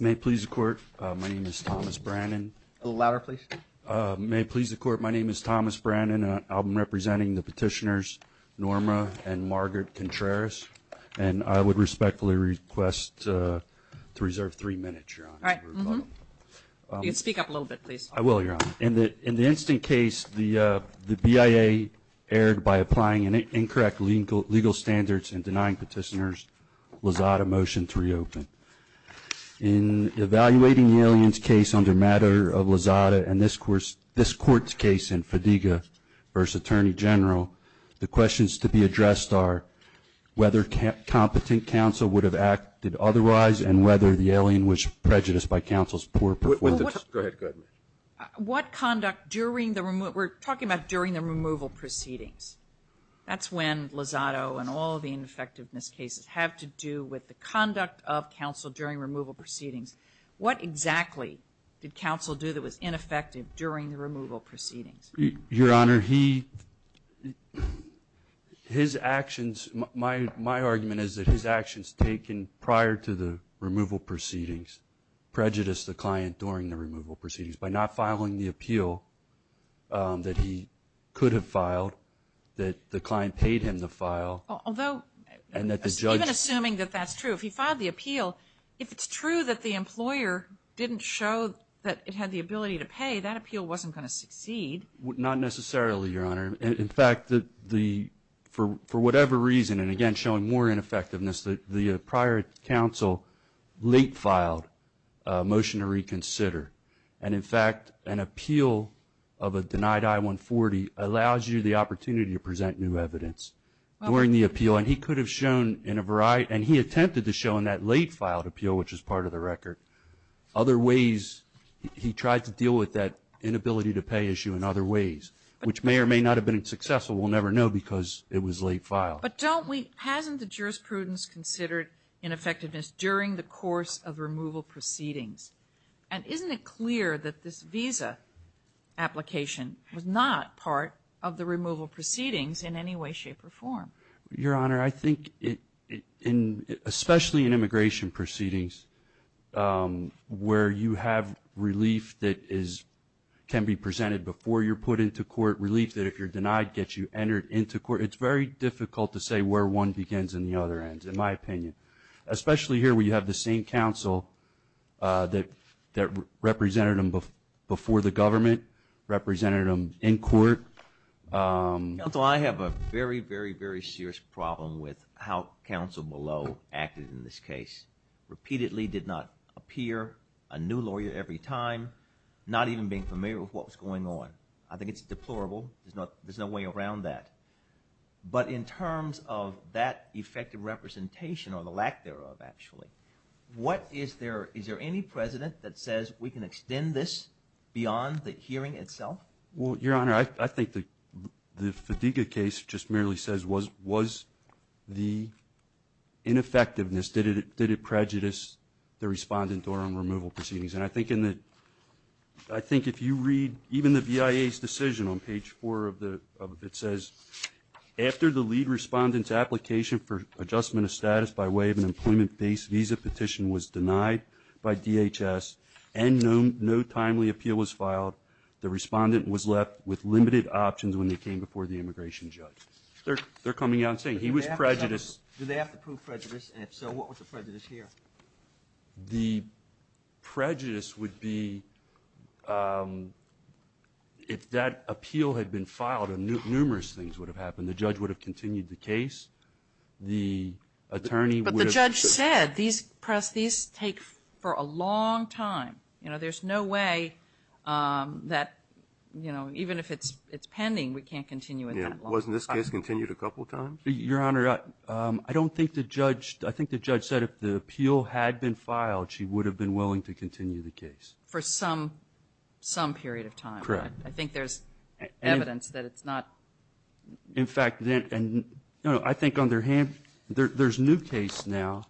May it please the court, my name is Thomas Brannan. A little louder please. May it please the court, my name is Thomas Brannan. I'm representing the petitioners Norma and Margaret Contreras, and I would respectfully request to reserve three minutes, Your Honor. All right. You can speak up a little bit, please. I will, Your Honor. In the instant case, the BIA erred by applying incorrect legal standards and denying petitioners Lozada motion to reopen. In evaluating the alien's case under matter of Lozada and this court's case in Fadiga v. Attorney General, the questions to be addressed are whether competent counsel would have acted otherwise and whether the alien was prejudiced by counsel's poor performance. Go ahead. What conduct during the removal? We're talking about during the removal proceedings. That's when Lozada and all the ineffectiveness cases have to do with the conduct of counsel during removal proceedings. What exactly did counsel do that was ineffective during the removal proceedings? Your Honor, his actions, my argument is that his actions taken prior to the removal proceedings prejudiced the client during the removal proceedings. By not filing the appeal that he could have filed, that the client paid him to file. Even assuming that that's true, if he filed the appeal, if it's true that the employer didn't show that it had the ability to pay, that appeal wasn't going to succeed. Not necessarily, Your Honor. In fact, for whatever reason, and again showing more ineffectiveness, the prior counsel late filed a motion to reconsider. And in fact, an appeal of a denied I-140 allows you the opportunity to present new evidence during the appeal. And he could have shown in a variety, and he attempted to show in that late filed appeal, which is part of the record, other ways he tried to deal with that inability to pay issue in other ways, which may or may not have been successful. We'll never know because it was late filed. But don't we, hasn't the jurisprudence considered ineffectiveness during the course of removal proceedings? And isn't it clear that this visa application was not part of the removal proceedings in any way, shape, or form? Your Honor, I think, especially in immigration proceedings, where you have relief that can be presented before you're put into court, relief that if you're denied gets you entered into court, it's very difficult to say where one begins and the other ends, in my opinion. Especially here where you have the same counsel that represented him before the government, represented him in court. Counsel, I have a very, very, very serious problem with how counsel below acted in this case. Repeatedly did not appear, a new lawyer every time, not even being familiar with what was going on. I think it's deplorable. There's no way around that. But in terms of that effective representation, or the lack thereof, actually, what is there, is there any president that says we can extend this beyond the hearing itself? Well, Your Honor, I think the Fadiga case just merely says, was the ineffectiveness, did it prejudice the respondent during removal proceedings? And I think if you read even the BIA's decision on page four of it says, after the lead respondent's application for adjustment of status by way of an employment-based visa petition was denied by DHS and no timely appeal was filed, the respondent was left with limited options when they came before the immigration judge. They're coming out and saying he was prejudiced. Did they have to prove prejudice? And if so, what was the prejudice here? The prejudice would be, if that appeal had been filed, numerous things would have happened. The judge would have continued the case. The attorney would have- But the judge said, these press, these take for a long time. You know, there's no way that, you know, even if it's pending, we can't continue it that long. Yeah, wasn't this case continued a couple times? Your Honor, I don't think the judge, I think the judge said if the appeal had been filed, she would have been willing to continue the case. For some period of time. Correct. I think there's evidence that it's not- In fact, I think on their hand, there's a new case now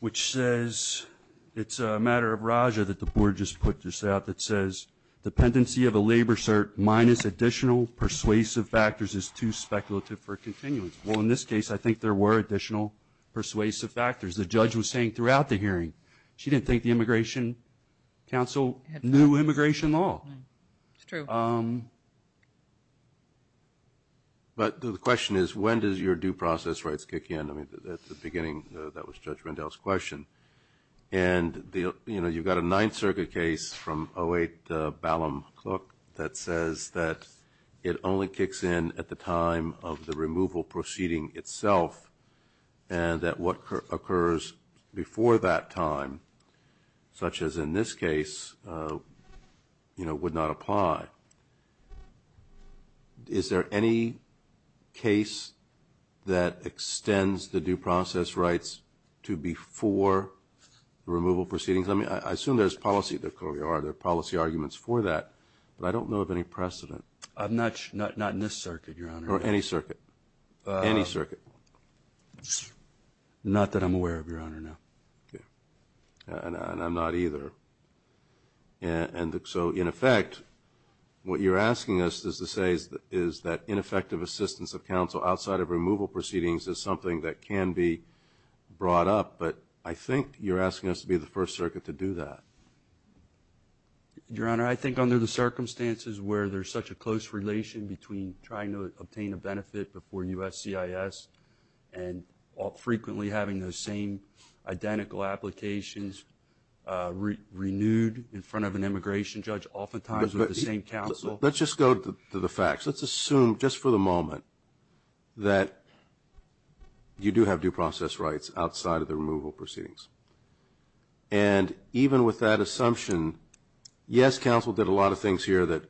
which says, it's a matter of Raja that the board just put this out that says, dependency of a labor cert minus additional persuasive factors is too speculative for continuance. Well, in this case, I think there were additional persuasive factors. The judge was saying throughout the hearing, she didn't think the Immigration Council knew immigration law. It's true. But the question is, when does your due process rights kick in? I mean, at the beginning, that was Judge Rendell's question. And, you know, you've got a Ninth Circuit case from 08 Ballam, look, that says that it only kicks in at the time of the removal proceeding itself, and that what occurs before that time, such as in this case, you know, would not apply. Is there any case that extends the due process rights to before removal proceedings? I mean, I assume there's policy. There clearly are. There are policy arguments for that, but I don't know of any precedent. Not in this circuit, Your Honor. Or any circuit. Any circuit. Not that I'm aware of, Your Honor, no. Okay. And I'm not either. And so, in effect, what you're asking us to say is that ineffective assistance of counsel outside of removal proceedings is something that can be brought up, but I think you're asking us to be the first circuit to do that. Your Honor, I think under the circumstances where there's such a close relation between trying to obtain a benefit before USCIS and frequently having those same identical applications renewed in front of an immigration judge, oftentimes with the same counsel. Let's just go to the facts. Let's assume just for the moment that you do have due process rights outside of the removal proceedings. And even with that assumption, yes, counsel did a lot of things here that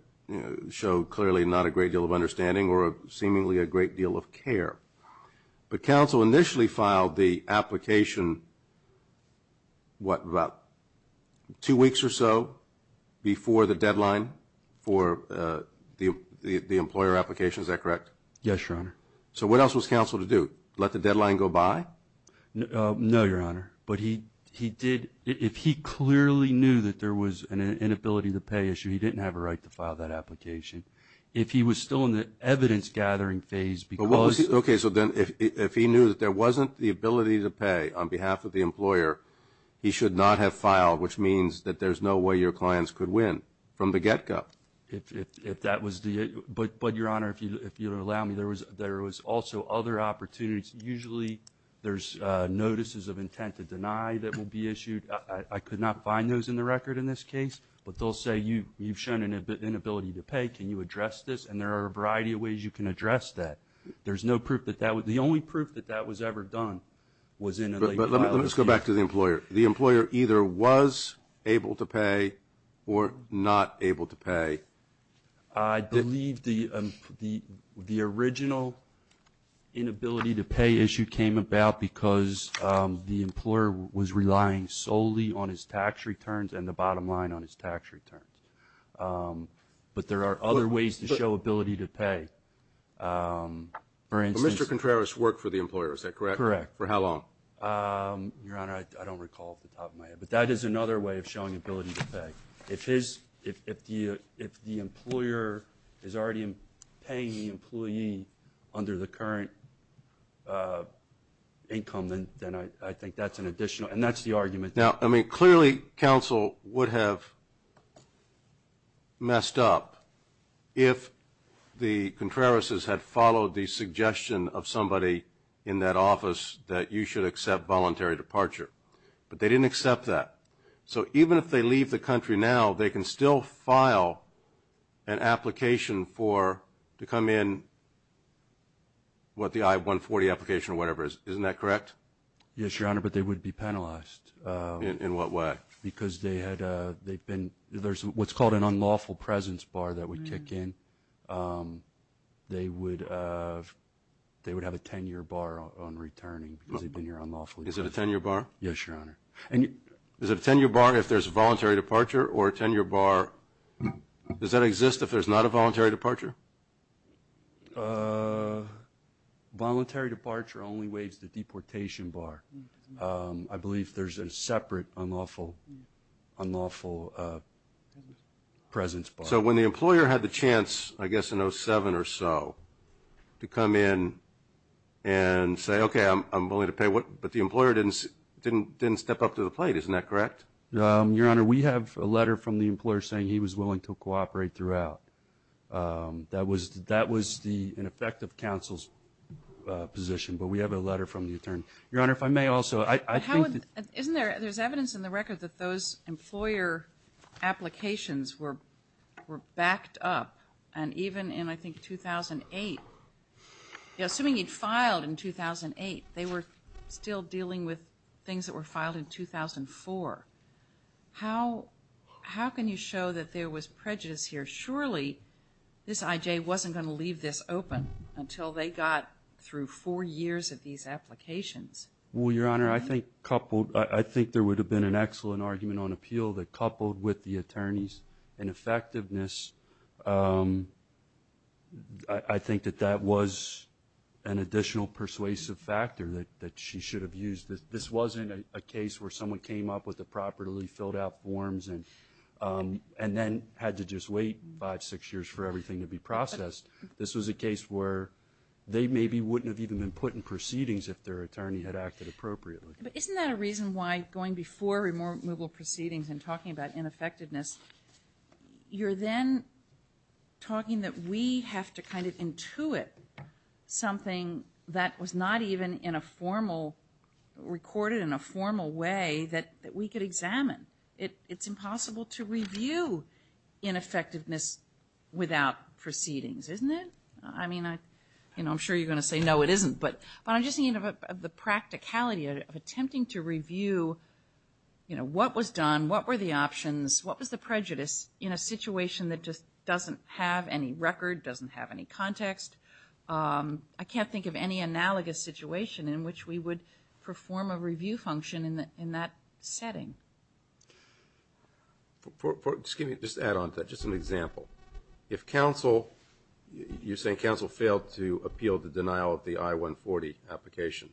show clearly not a great deal of understanding or seemingly a great deal of care. But counsel initially filed the application, what, about two weeks or so before the deadline for the employer application? Is that correct? Yes, Your Honor. So what else was counsel to do? Let the deadline go by? No, Your Honor. But he did, if he clearly knew that there was an inability to pay issue, he didn't have a right to file that application. If he was still in the evidence-gathering phase because he was. Okay, so then if he knew that there wasn't the ability to pay on behalf of the employer, he should not have filed, which means that there's no way your clients could win from the get-go. But, Your Honor, if you'll allow me, there was also other opportunities. Usually there's notices of intent to deny that will be issued. I could not find those in the record in this case. But they'll say you've shown an inability to pay. Can you address this? And there are a variety of ways you can address that. There's no proof that that was the only proof that that was ever done was in a late filing. Let's go back to the employer. The employer either was able to pay or not able to pay. I believe the original inability to pay issue came about because the employer was relying solely on his tax returns and the bottom line on his tax returns. But there are other ways to show ability to pay. Mr. Contreras worked for the employer, is that correct? Correct. For how long? Your Honor, I don't recall off the top of my head. But that is another way of showing ability to pay. If the employer is already paying the employee under the current income, then I think that's an additional. And that's the argument. Now, I mean, clearly counsel would have messed up if the Contreras' had followed the suggestion of somebody in that office that you should accept voluntary departure. But they didn't accept that. So even if they leave the country now, they can still file an application to come in with the I-140 application or whatever. Isn't that correct? Yes, Your Honor, but they would be penalized. In what way? Because they've been – there's what's called an unlawful presence bar that would kick in. They would have a 10-year bar on returning because they've been here unlawfully. Is it a 10-year bar? Yes, Your Honor. Is it a 10-year bar if there's a voluntary departure or a 10-year bar – does that exist if there's not a voluntary departure? Voluntary departure only waives the deportation bar. I believe there's a separate unlawful presence bar. So when the employer had the chance, I guess in 2007 or so, to come in and say, okay, I'm willing to pay, but the employer didn't step up to the plate. Isn't that correct? Your Honor, we have a letter from the employer saying he was willing to cooperate throughout. That was in effect of counsel's position, but we have a letter from the attorney. Your Honor, if I may also, I think that – Isn't there – there's evidence in the record that those employer applications were backed up, and even in, I think, 2008, assuming he'd filed in 2008, they were still dealing with things that were filed in 2004. How can you show that there was prejudice here? Surely this IJ wasn't going to leave this open until they got through four years of these applications. Well, Your Honor, I think coupled – I think there would have been an excellent argument on appeal that coupled with the attorney's ineffectiveness, I think that that was an additional persuasive factor that she should have used. This wasn't a case where someone came up with the properly filled out forms and then had to just wait five, six years for everything to be processed. This was a case where they maybe wouldn't have even been put in proceedings if their attorney had acted appropriately. But isn't that a reason why going before removal proceedings and talking about ineffectiveness, you're then talking that we have to kind of intuit something that was not even in a formal – recorded in a formal way that we could examine. It's impossible to review ineffectiveness without proceedings, isn't it? I mean, I'm sure you're going to say, no, it isn't. But I'm just thinking of the practicality of attempting to review what was done, what were the options, what was the prejudice in a situation that just doesn't have any record, doesn't have any context. I can't think of any analogous situation in which we would perform a review function in that setting. Just to add on to that, just an example. If counsel – you're saying counsel failed to appeal the denial of the I-140 application.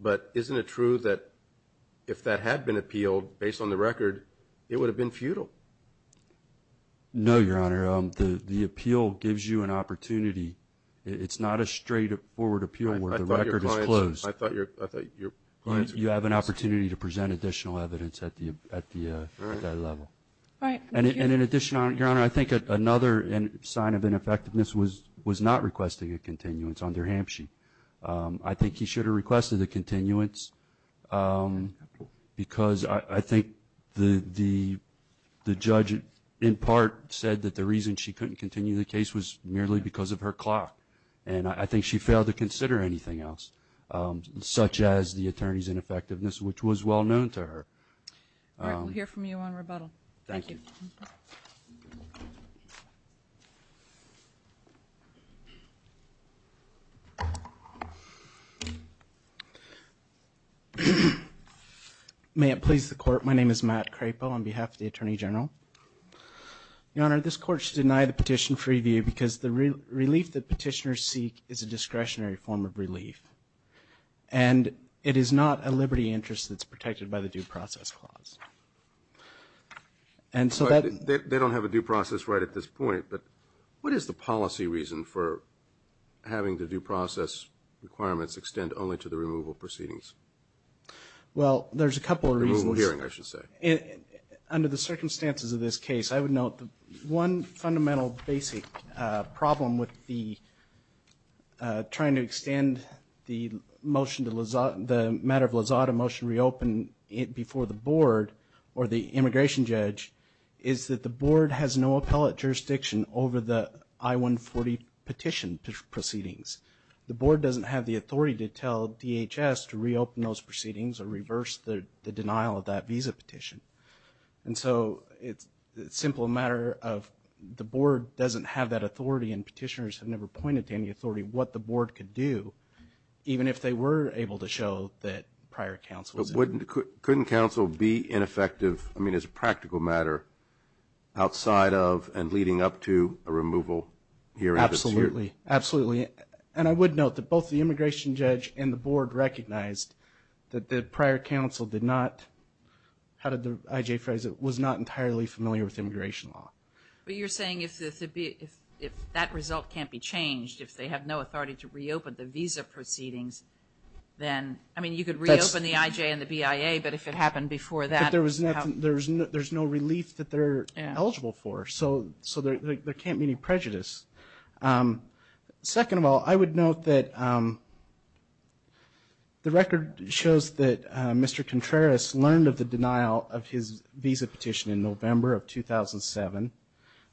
But isn't it true that if that had been appealed, based on the record, it would have been futile? No, Your Honor. The appeal gives you an opportunity. It's not a straight-forward appeal where the record is closed. I thought your answer was – You have an opportunity to present additional evidence at that level. All right. Thank you. And in addition, Your Honor, I think another sign of ineffectiveness was not requesting a continuance under Hampshire. I think he should have requested a continuance because I think the judge, in part, said that the reason she couldn't continue the case was merely because of her clock. And I think she failed to consider anything else, such as the attorney's ineffectiveness, which was well known to her. All right. We'll hear from you on rebuttal. Thank you. May it please the Court. My name is Matt Crapo on behalf of the Attorney General. Your Honor, this Court should deny the petition free view because the relief that petitioners seek is a discretionary form of relief, and it is not a liberty interest that's protected by the Due Process Clause. They don't have a due process right at this point, but what is the policy reason for having the due process requirements extend only to the removal proceedings? Well, there's a couple of reasons. Removal hearing, I should say. Under the circumstances of this case, I would note that one fundamental basic problem with the trying to extend the motion, the matter of Lazada motion reopen before the board or the immigration judge, is that the board has no appellate jurisdiction over the I-140 petition proceedings. The board doesn't have the authority to tell DHS to reopen those proceedings or reverse the denial of that visa petition. And so it's a simple matter of the board doesn't have that authority and petitioners have never pointed to any authority what the board could do, even if they were able to show that prior counsels. Couldn't counsel be ineffective? I mean, it's a practical matter outside of and leading up to a removal hearing. Absolutely. Absolutely. And I would note that both the immigration judge and the board recognized that the prior counsel did not, how did the IJ phrase it, was not entirely familiar with immigration law. But you're saying if that result can't be changed, if they have no authority to reopen the visa proceedings, then, I mean, you could reopen the IJ and the BIA, but if it happened before that. But there's no relief that they're eligible for, so there can't be any prejudice. Second of all, I would note that the record shows that Mr. Contreras learned of the denial of his visa petition in November of 2007,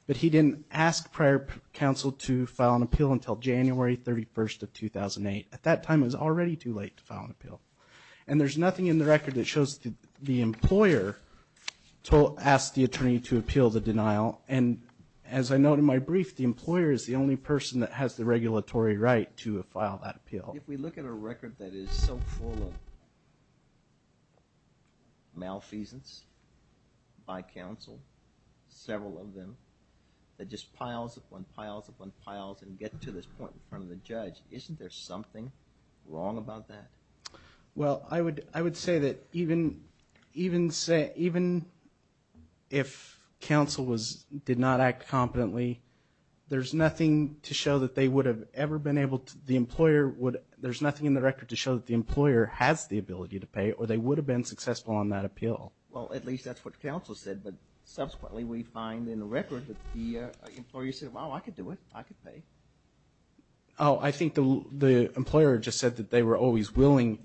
but he didn't ask prior counsel to file an appeal until January 31st of 2008. At that time, it was already too late to file an appeal. And there's nothing in the record that shows the employer asked the attorney to appeal the denial. And as I note in my brief, the employer is the only person that has the regulatory right to file that appeal. If we look at a record that is so full of malfeasance by counsel, several of them that just piles upon piles upon piles and get to this point in front of the judge, isn't there something wrong about that? Well, I would say that even if counsel did not act competently, there's nothing to show that they would have ever been able to, the employer would, there's nothing in the record to show that the employer has the ability to pay or they would have been successful on that appeal. Well, at least that's what counsel said. But subsequently, we find in the record that the employer said, well, I could do it. I could pay. Oh, I think the employer just said that they were always willing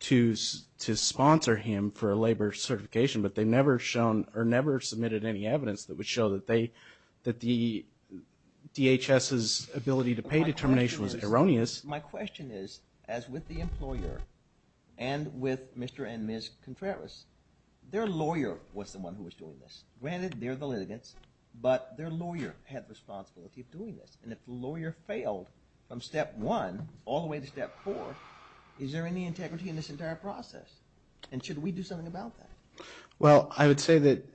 to sponsor him for a labor certification, but they never shown or never submitted any evidence that would show that they, that the DHS's ability to pay determination was erroneous. My question is, as with the employer and with Mr. and Ms. Contreras, their lawyer was the one who was doing this. Granted, they're the litigants, but their lawyer had responsibility of doing this. And if the lawyer failed from step one all the way to step four, is there any integrity in this entire process? And should we do something about that? Well, I would say that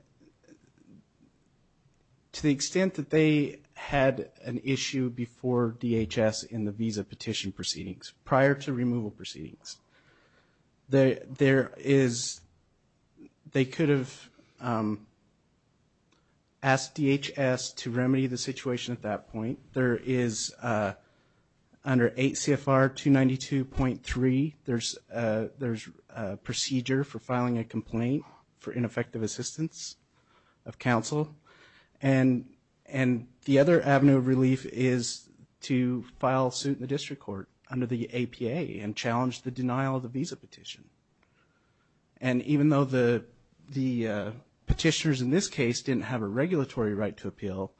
to the extent that they had an issue before DHS in the visa petition proceedings, prior to removal proceedings, there is, they could have asked DHS to remedy the situation at that point. There is under 8 CFR 292.3, there's a procedure for filing a complaint for ineffective assistance of counsel. And the other avenue of relief is to file suit in the district court under the APA and challenge the denial of the visa petition. And even though the petitioners in this case didn't have a regulatory right to appeal,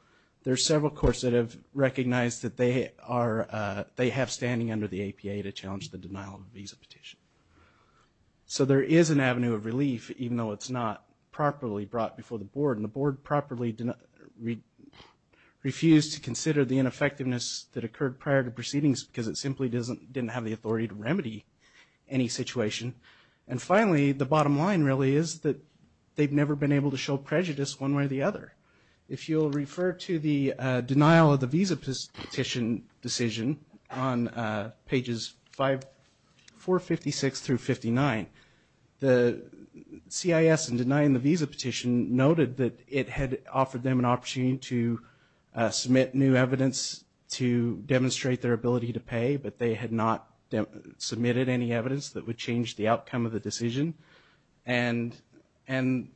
there are several courts that have recognized that they have standing under the APA to challenge the denial of the visa petition. So there is an avenue of relief, even though it's not properly brought before the board. And the board refused to consider the ineffectiveness that occurred prior to proceedings because it simply didn't have the authority to remedy any situation. And finally, the bottom line really is that they've never been able to show prejudice one way or the other. If you'll refer to the denial of the visa petition decision on pages 456 through 59, the CIS in denying the visa petition noted that it had offered them an opportunity to submit new evidence to demonstrate their ability to pay, but they had not submitted any evidence that would change the outcome of the decision. And the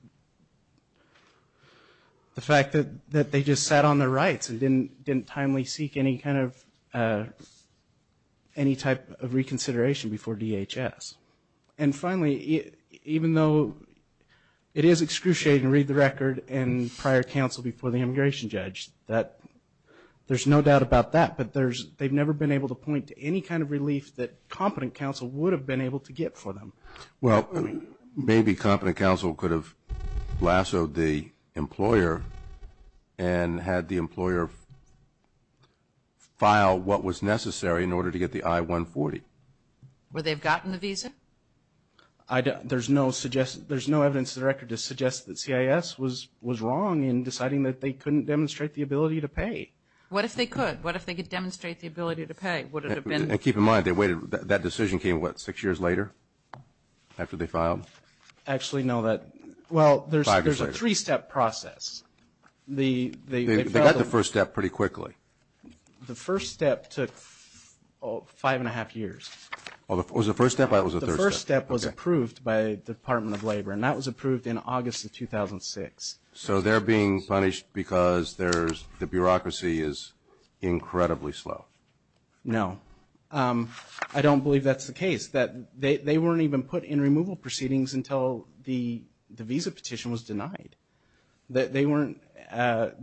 fact that they just sat on their rights and didn't timely seek any kind of any type of reconsideration before DHS. And finally, even though it is excruciating to read the record in prior counsel before the immigration judge, there's no doubt about that, but they've never been able to point to any kind of relief that competent counsel would have been able to get for them. Well, maybe competent counsel could have lassoed the employer and had the employer file what was necessary in order to get the I-140. Where they've gotten the visa? There's no evidence in the record to suggest that CIS was wrong in deciding that they couldn't demonstrate the ability to pay. What if they could? What if they could demonstrate the ability to pay? And keep in mind, that decision came what, six years later after they filed? Actually, no. Well, there's a three-step process. They got the first step pretty quickly. The first step took five and a half years. Was it the first step or was it the third step? The first step was approved by the Department of Labor, and that was approved in August of 2006. So they're being punished because the bureaucracy is incredibly slow? No. I don't believe that's the case. They weren't even put in removal proceedings until the visa petition was denied. They weren't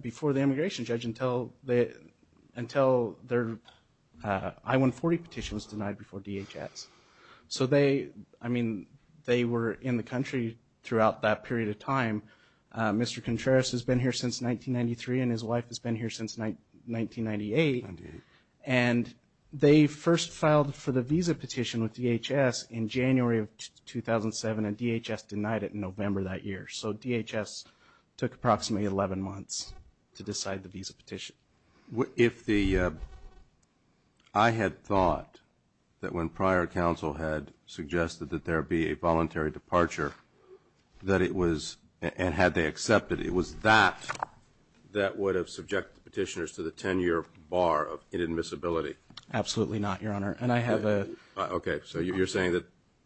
before the immigration judge until their I-140 petition was denied before DHS. So they were in the country throughout that period of time. Mr. Contreras has been here since 1993, and his wife has been here since 1998. 1998. And they first filed for the visa petition with DHS in January of 2007, and DHS denied it in November that year. So DHS took approximately 11 months to decide the visa petition. If the, I had thought that when prior counsel had suggested that there be a voluntary departure, that it was, and had they accepted it, it was that that would have subjected the petitioners to the 10-year bar of inadmissibility? Absolutely not, Your Honor. And I have a... Okay. So you're saying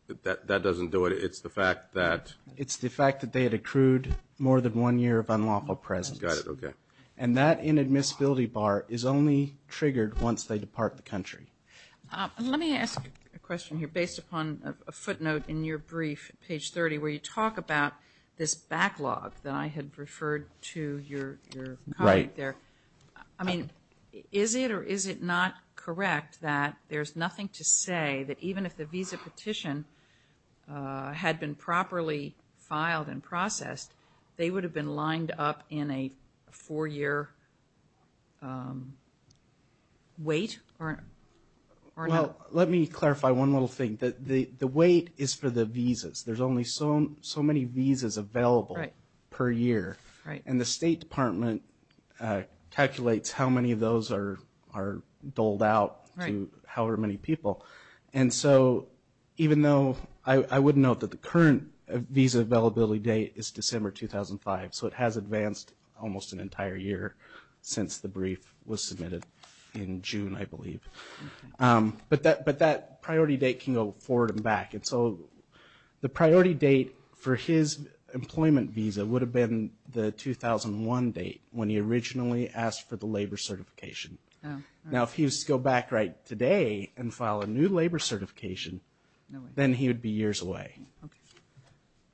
that that doesn't do it. It's the fact that... It's the fact that they had accrued more than one year of unlawful presence. Got it. Okay. And that inadmissibility bar is only triggered once they depart the country. Let me ask a question here based upon a footnote in your brief, page 30, where you talk about this backlog that I had referred to your comment there. Right. I mean, is it or is it not correct that there's nothing to say that even if the visa petition had been properly filed and processed, they would have been lined up in a four-year wait or not? Well, let me clarify one little thing. The wait is for the visas. There's only so many visas available per year. Right. And the State Department calculates how many of those are doled out to however many people. And so even though I would note that the current visa availability date is December 2005, so it has advanced almost an entire year since the brief was submitted in June, I believe. But that priority date can go forward and back. And so the priority date for his employment visa would have been the 2001 date when he originally asked for the labor certification. Oh. Now, if he was to go back right today and file a new labor certification, then he would be years away. Okay.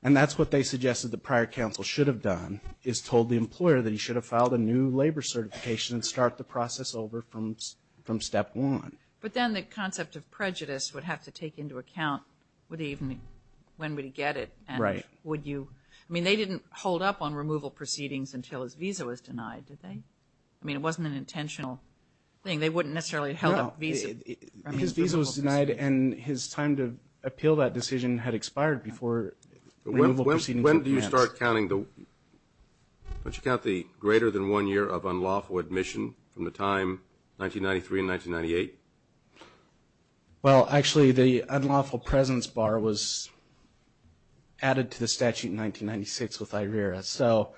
And that's what they suggested the prior counsel should have done, is told the employer that he should have filed a new labor certification and start the process over from step one. But then the concept of prejudice would have to take into account when would he get it. Right. I mean, they didn't hold up on removal proceedings until his visa was denied, did they? I mean, it wasn't an intentional thing. They wouldn't necessarily have held up a visa. No. His visa was denied and his time to appeal that decision had expired before removal proceedings were advanced. When do you start counting the greater than one year of unlawful admission from the time 1993 and 1998? Well, actually, the unlawful presence bar was added to the statute in 1996 with IRERA. So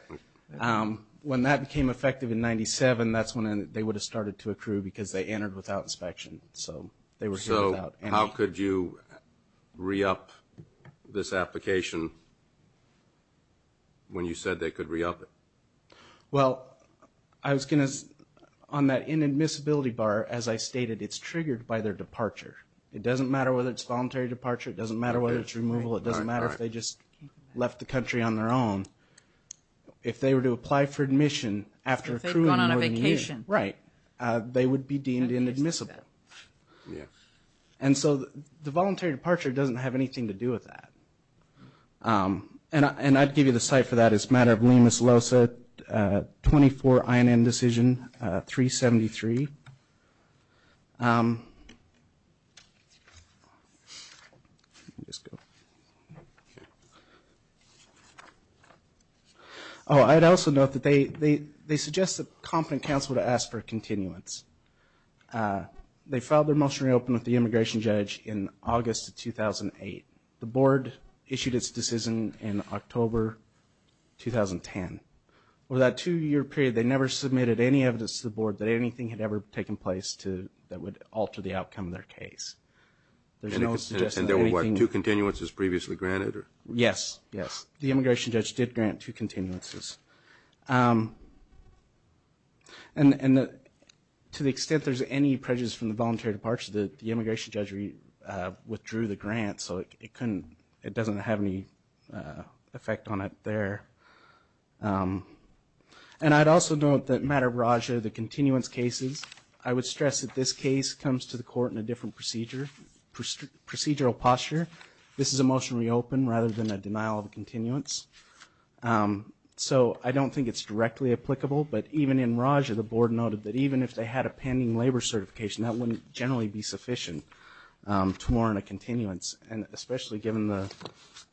when that became effective in 97, that's when they would have started to accrue because they entered without inspection. So they were here without any. So how could you re-up this application when you said they could re-up it? Well, on that inadmissibility bar, as I stated, it's triggered by their departure. It doesn't matter whether it's voluntary departure. It doesn't matter whether it's removal. It doesn't matter if they just left the country on their own. If they were to apply for admission after accruing more than a year, they would be deemed inadmissible. And so the voluntary departure doesn't have anything to do with that. And I'd give you the cite for that. It's a matter of Lemus-Losa, 24 INN decision, 373. Oh, I'd also note that they suggest the competent counsel to ask for a continuance. They filed their motion to reopen with the immigration judge in August of 2008. The board issued its decision in October 2010. Over that two-year period, they never submitted any evidence to the board that anything had ever taken place that would alter the outcome of their case. And there were, what, two continuances previously granted? Yes, yes. The immigration judge did grant two continuances. And to the extent there's any prejudice from the voluntary departure, the immigration judge withdrew the grant. So it doesn't have any effect on it there. And I'd also note that matter of Raja, the continuance cases, I would stress that this case comes to the court in a different procedural posture. This is a motion to reopen rather than a denial of continuance. So I don't think it's directly applicable. But even in Raja, the board noted that even if they had a pending labor certification, that wouldn't generally be sufficient to warrant a continuance. And especially given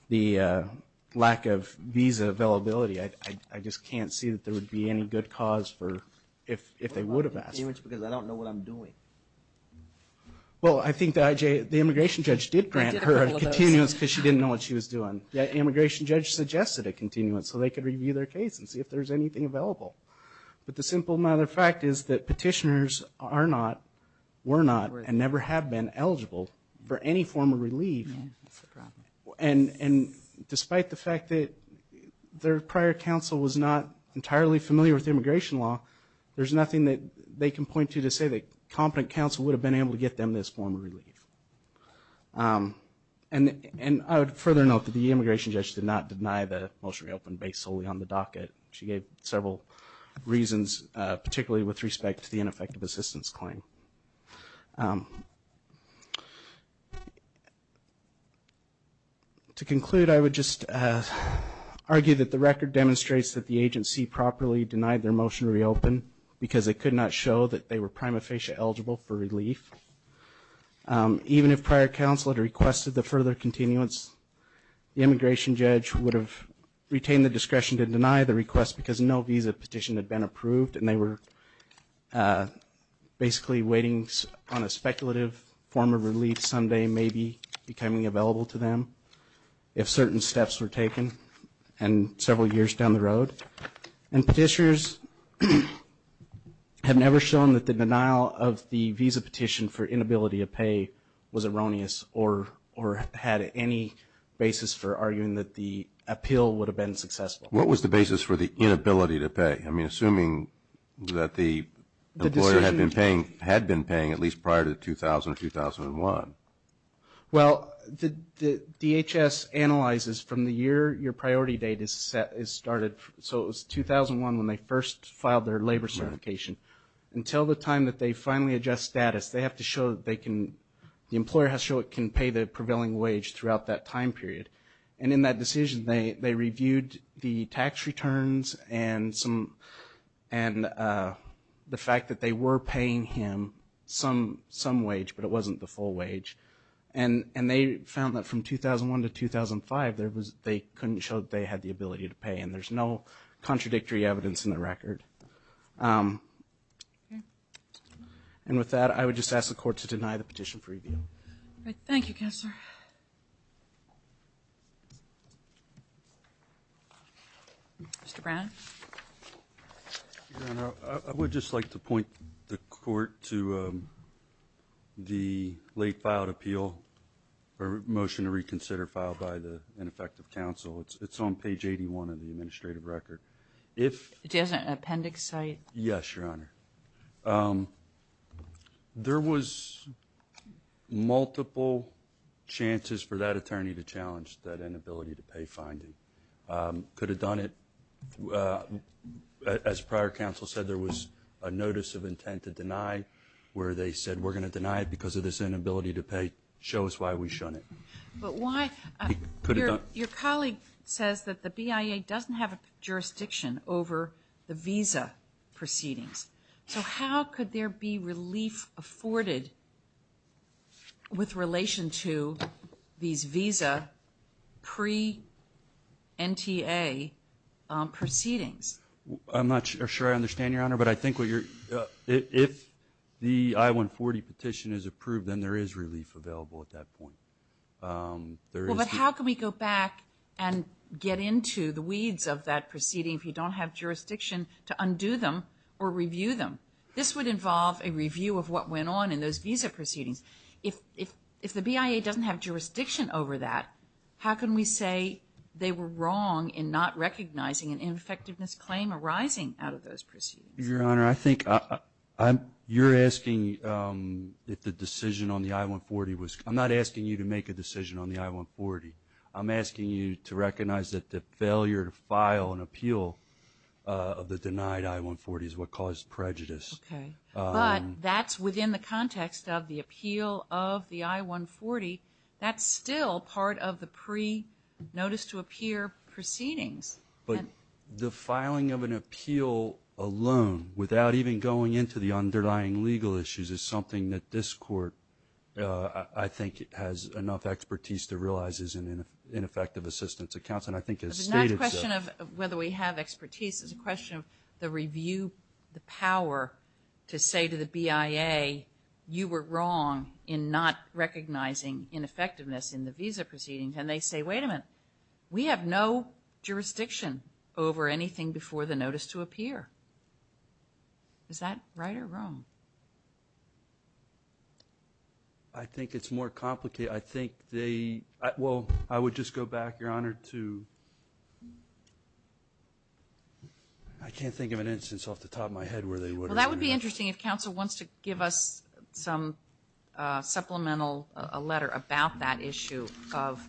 the lack of visa availability, I just can't see that there would be any good cause for if they would have asked for it. Because I don't know what I'm doing. Well, I think the immigration judge did grant her a continuance because she didn't know what she was doing. The immigration judge suggested a continuance so they could review their case and see if there's anything available. But the simple matter of fact is that petitioners are not, were not, and never have been eligible for any form of relief. And despite the fact that their prior counsel was not entirely familiar with immigration law, there's nothing that they can point to to say that competent counsel would have been able to get them this form of relief. And I would further note that the immigration judge did not deny the motion to reopen based solely on the docket. She gave several reasons, particularly with respect to the ineffective assistance claim. To conclude, I would just argue that the record demonstrates that the agency properly denied their motion to reopen because it could not show that they were prima facie eligible for relief. Even if prior counsel had requested the further continuance, the immigration judge would have retained the discretion to deny the request because no visa petition had been approved and they were basically waiting on a speculative form of relief someday maybe becoming available to them if certain steps were taken and several years down the road. And petitioners have never shown that the denial of the visa petition for inability to pay was erroneous or had any basis for arguing that the appeal would have been successful. What was the basis for the inability to pay? I mean, assuming that the employer had been paying at least prior to 2000 or 2001. Well, the DHS analyzes from the year your priority date is started. So it was 2001 when they first filed their labor certification. Until the time that they finally adjust status, they have to show that they can, the employer has to show it can pay the prevailing wage throughout that time period. And in that decision, they reviewed the tax returns and the fact that they were paying him some wage, but it wasn't the full wage. And they found that from 2001 to 2005, they couldn't show that they had the ability to pay and there's no contradictory evidence in the record. And with that, I would just ask the court to deny the petition for review. Thank you, Counselor. Mr. Brown. I would just like to point the court to the late filed appeal, or motion to reconsider filed by the ineffective counsel. It's on page 81 of the administrative record. Yes, Your Honor. There was multiple chances for that attorney to challenge that inability to pay finding. Could have done it. As prior counsel said, there was a notice of intent to deny where they said, we're going to deny it because of this inability to pay, show us why we shouldn't. Your colleague says that the BIA doesn't have a jurisdiction over the visa proceedings. So how could there be relief afforded with relation to these visa pre-NTA proceedings I'm not sure I understand, Your Honor, but I think if the I-140 petition is approved, then there is relief available at that point. How can we go back and get into the weeds of that proceeding if you don't have jurisdiction to undo them or review them? This would involve a review of what went on in those visa proceedings. If the BIA doesn't have jurisdiction over that, how can we say they were wrong in not recognizing an ineffectiveness claim arising out of those proceedings? Your Honor, I think you're asking if the decision on the I-140 was, I'm not asking you to make a decision on the I-140. I'm asking you to recognize that the failure to file an appeal of the denied I-140 is what caused prejudice. But that's within the context of the appeal of the I-140. That's still part of the pre-notice-to-appear proceedings. But the filing of an appeal alone, without even going into the underlying legal issues, is something that this Court, I think, has enough expertise to realize is in ineffective assistance accounts, and I think as the State itself. It's not a question of whether we have expertise. It's a question of the review, the power to say to the BIA, you were wrong in not recognizing ineffectiveness in the visa proceedings. And they say, wait a minute, we have no jurisdiction over anything before the notice-to-appear. Is that right or wrong? I think it's more complicated. I think they, well, I would just go back, Your Honor, to, I can't think of an instance off the top of my head where they would. Well, that would be interesting if counsel wants to give us some supplemental letter about that issue of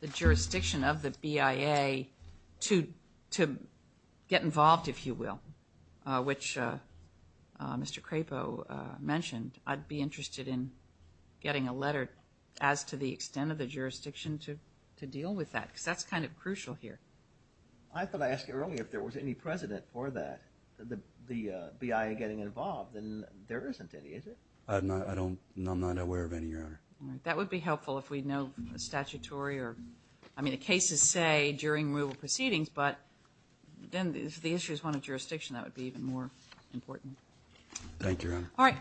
the jurisdiction of the BIA to get involved, if you will, which Mr. Crapo mentioned. I'd be interested in getting a letter as to the extent of the jurisdiction to deal with that because that's kind of crucial here. I thought I asked you earlier if there was any precedent for that, the BIA getting involved, and there isn't any, is it? I'm not aware of any, Your Honor. That would be helpful if we know the statutory or, I mean, the cases say during removal proceedings, but then if the issue is one of jurisdiction, that would be even more important. Thank you, Your Honor.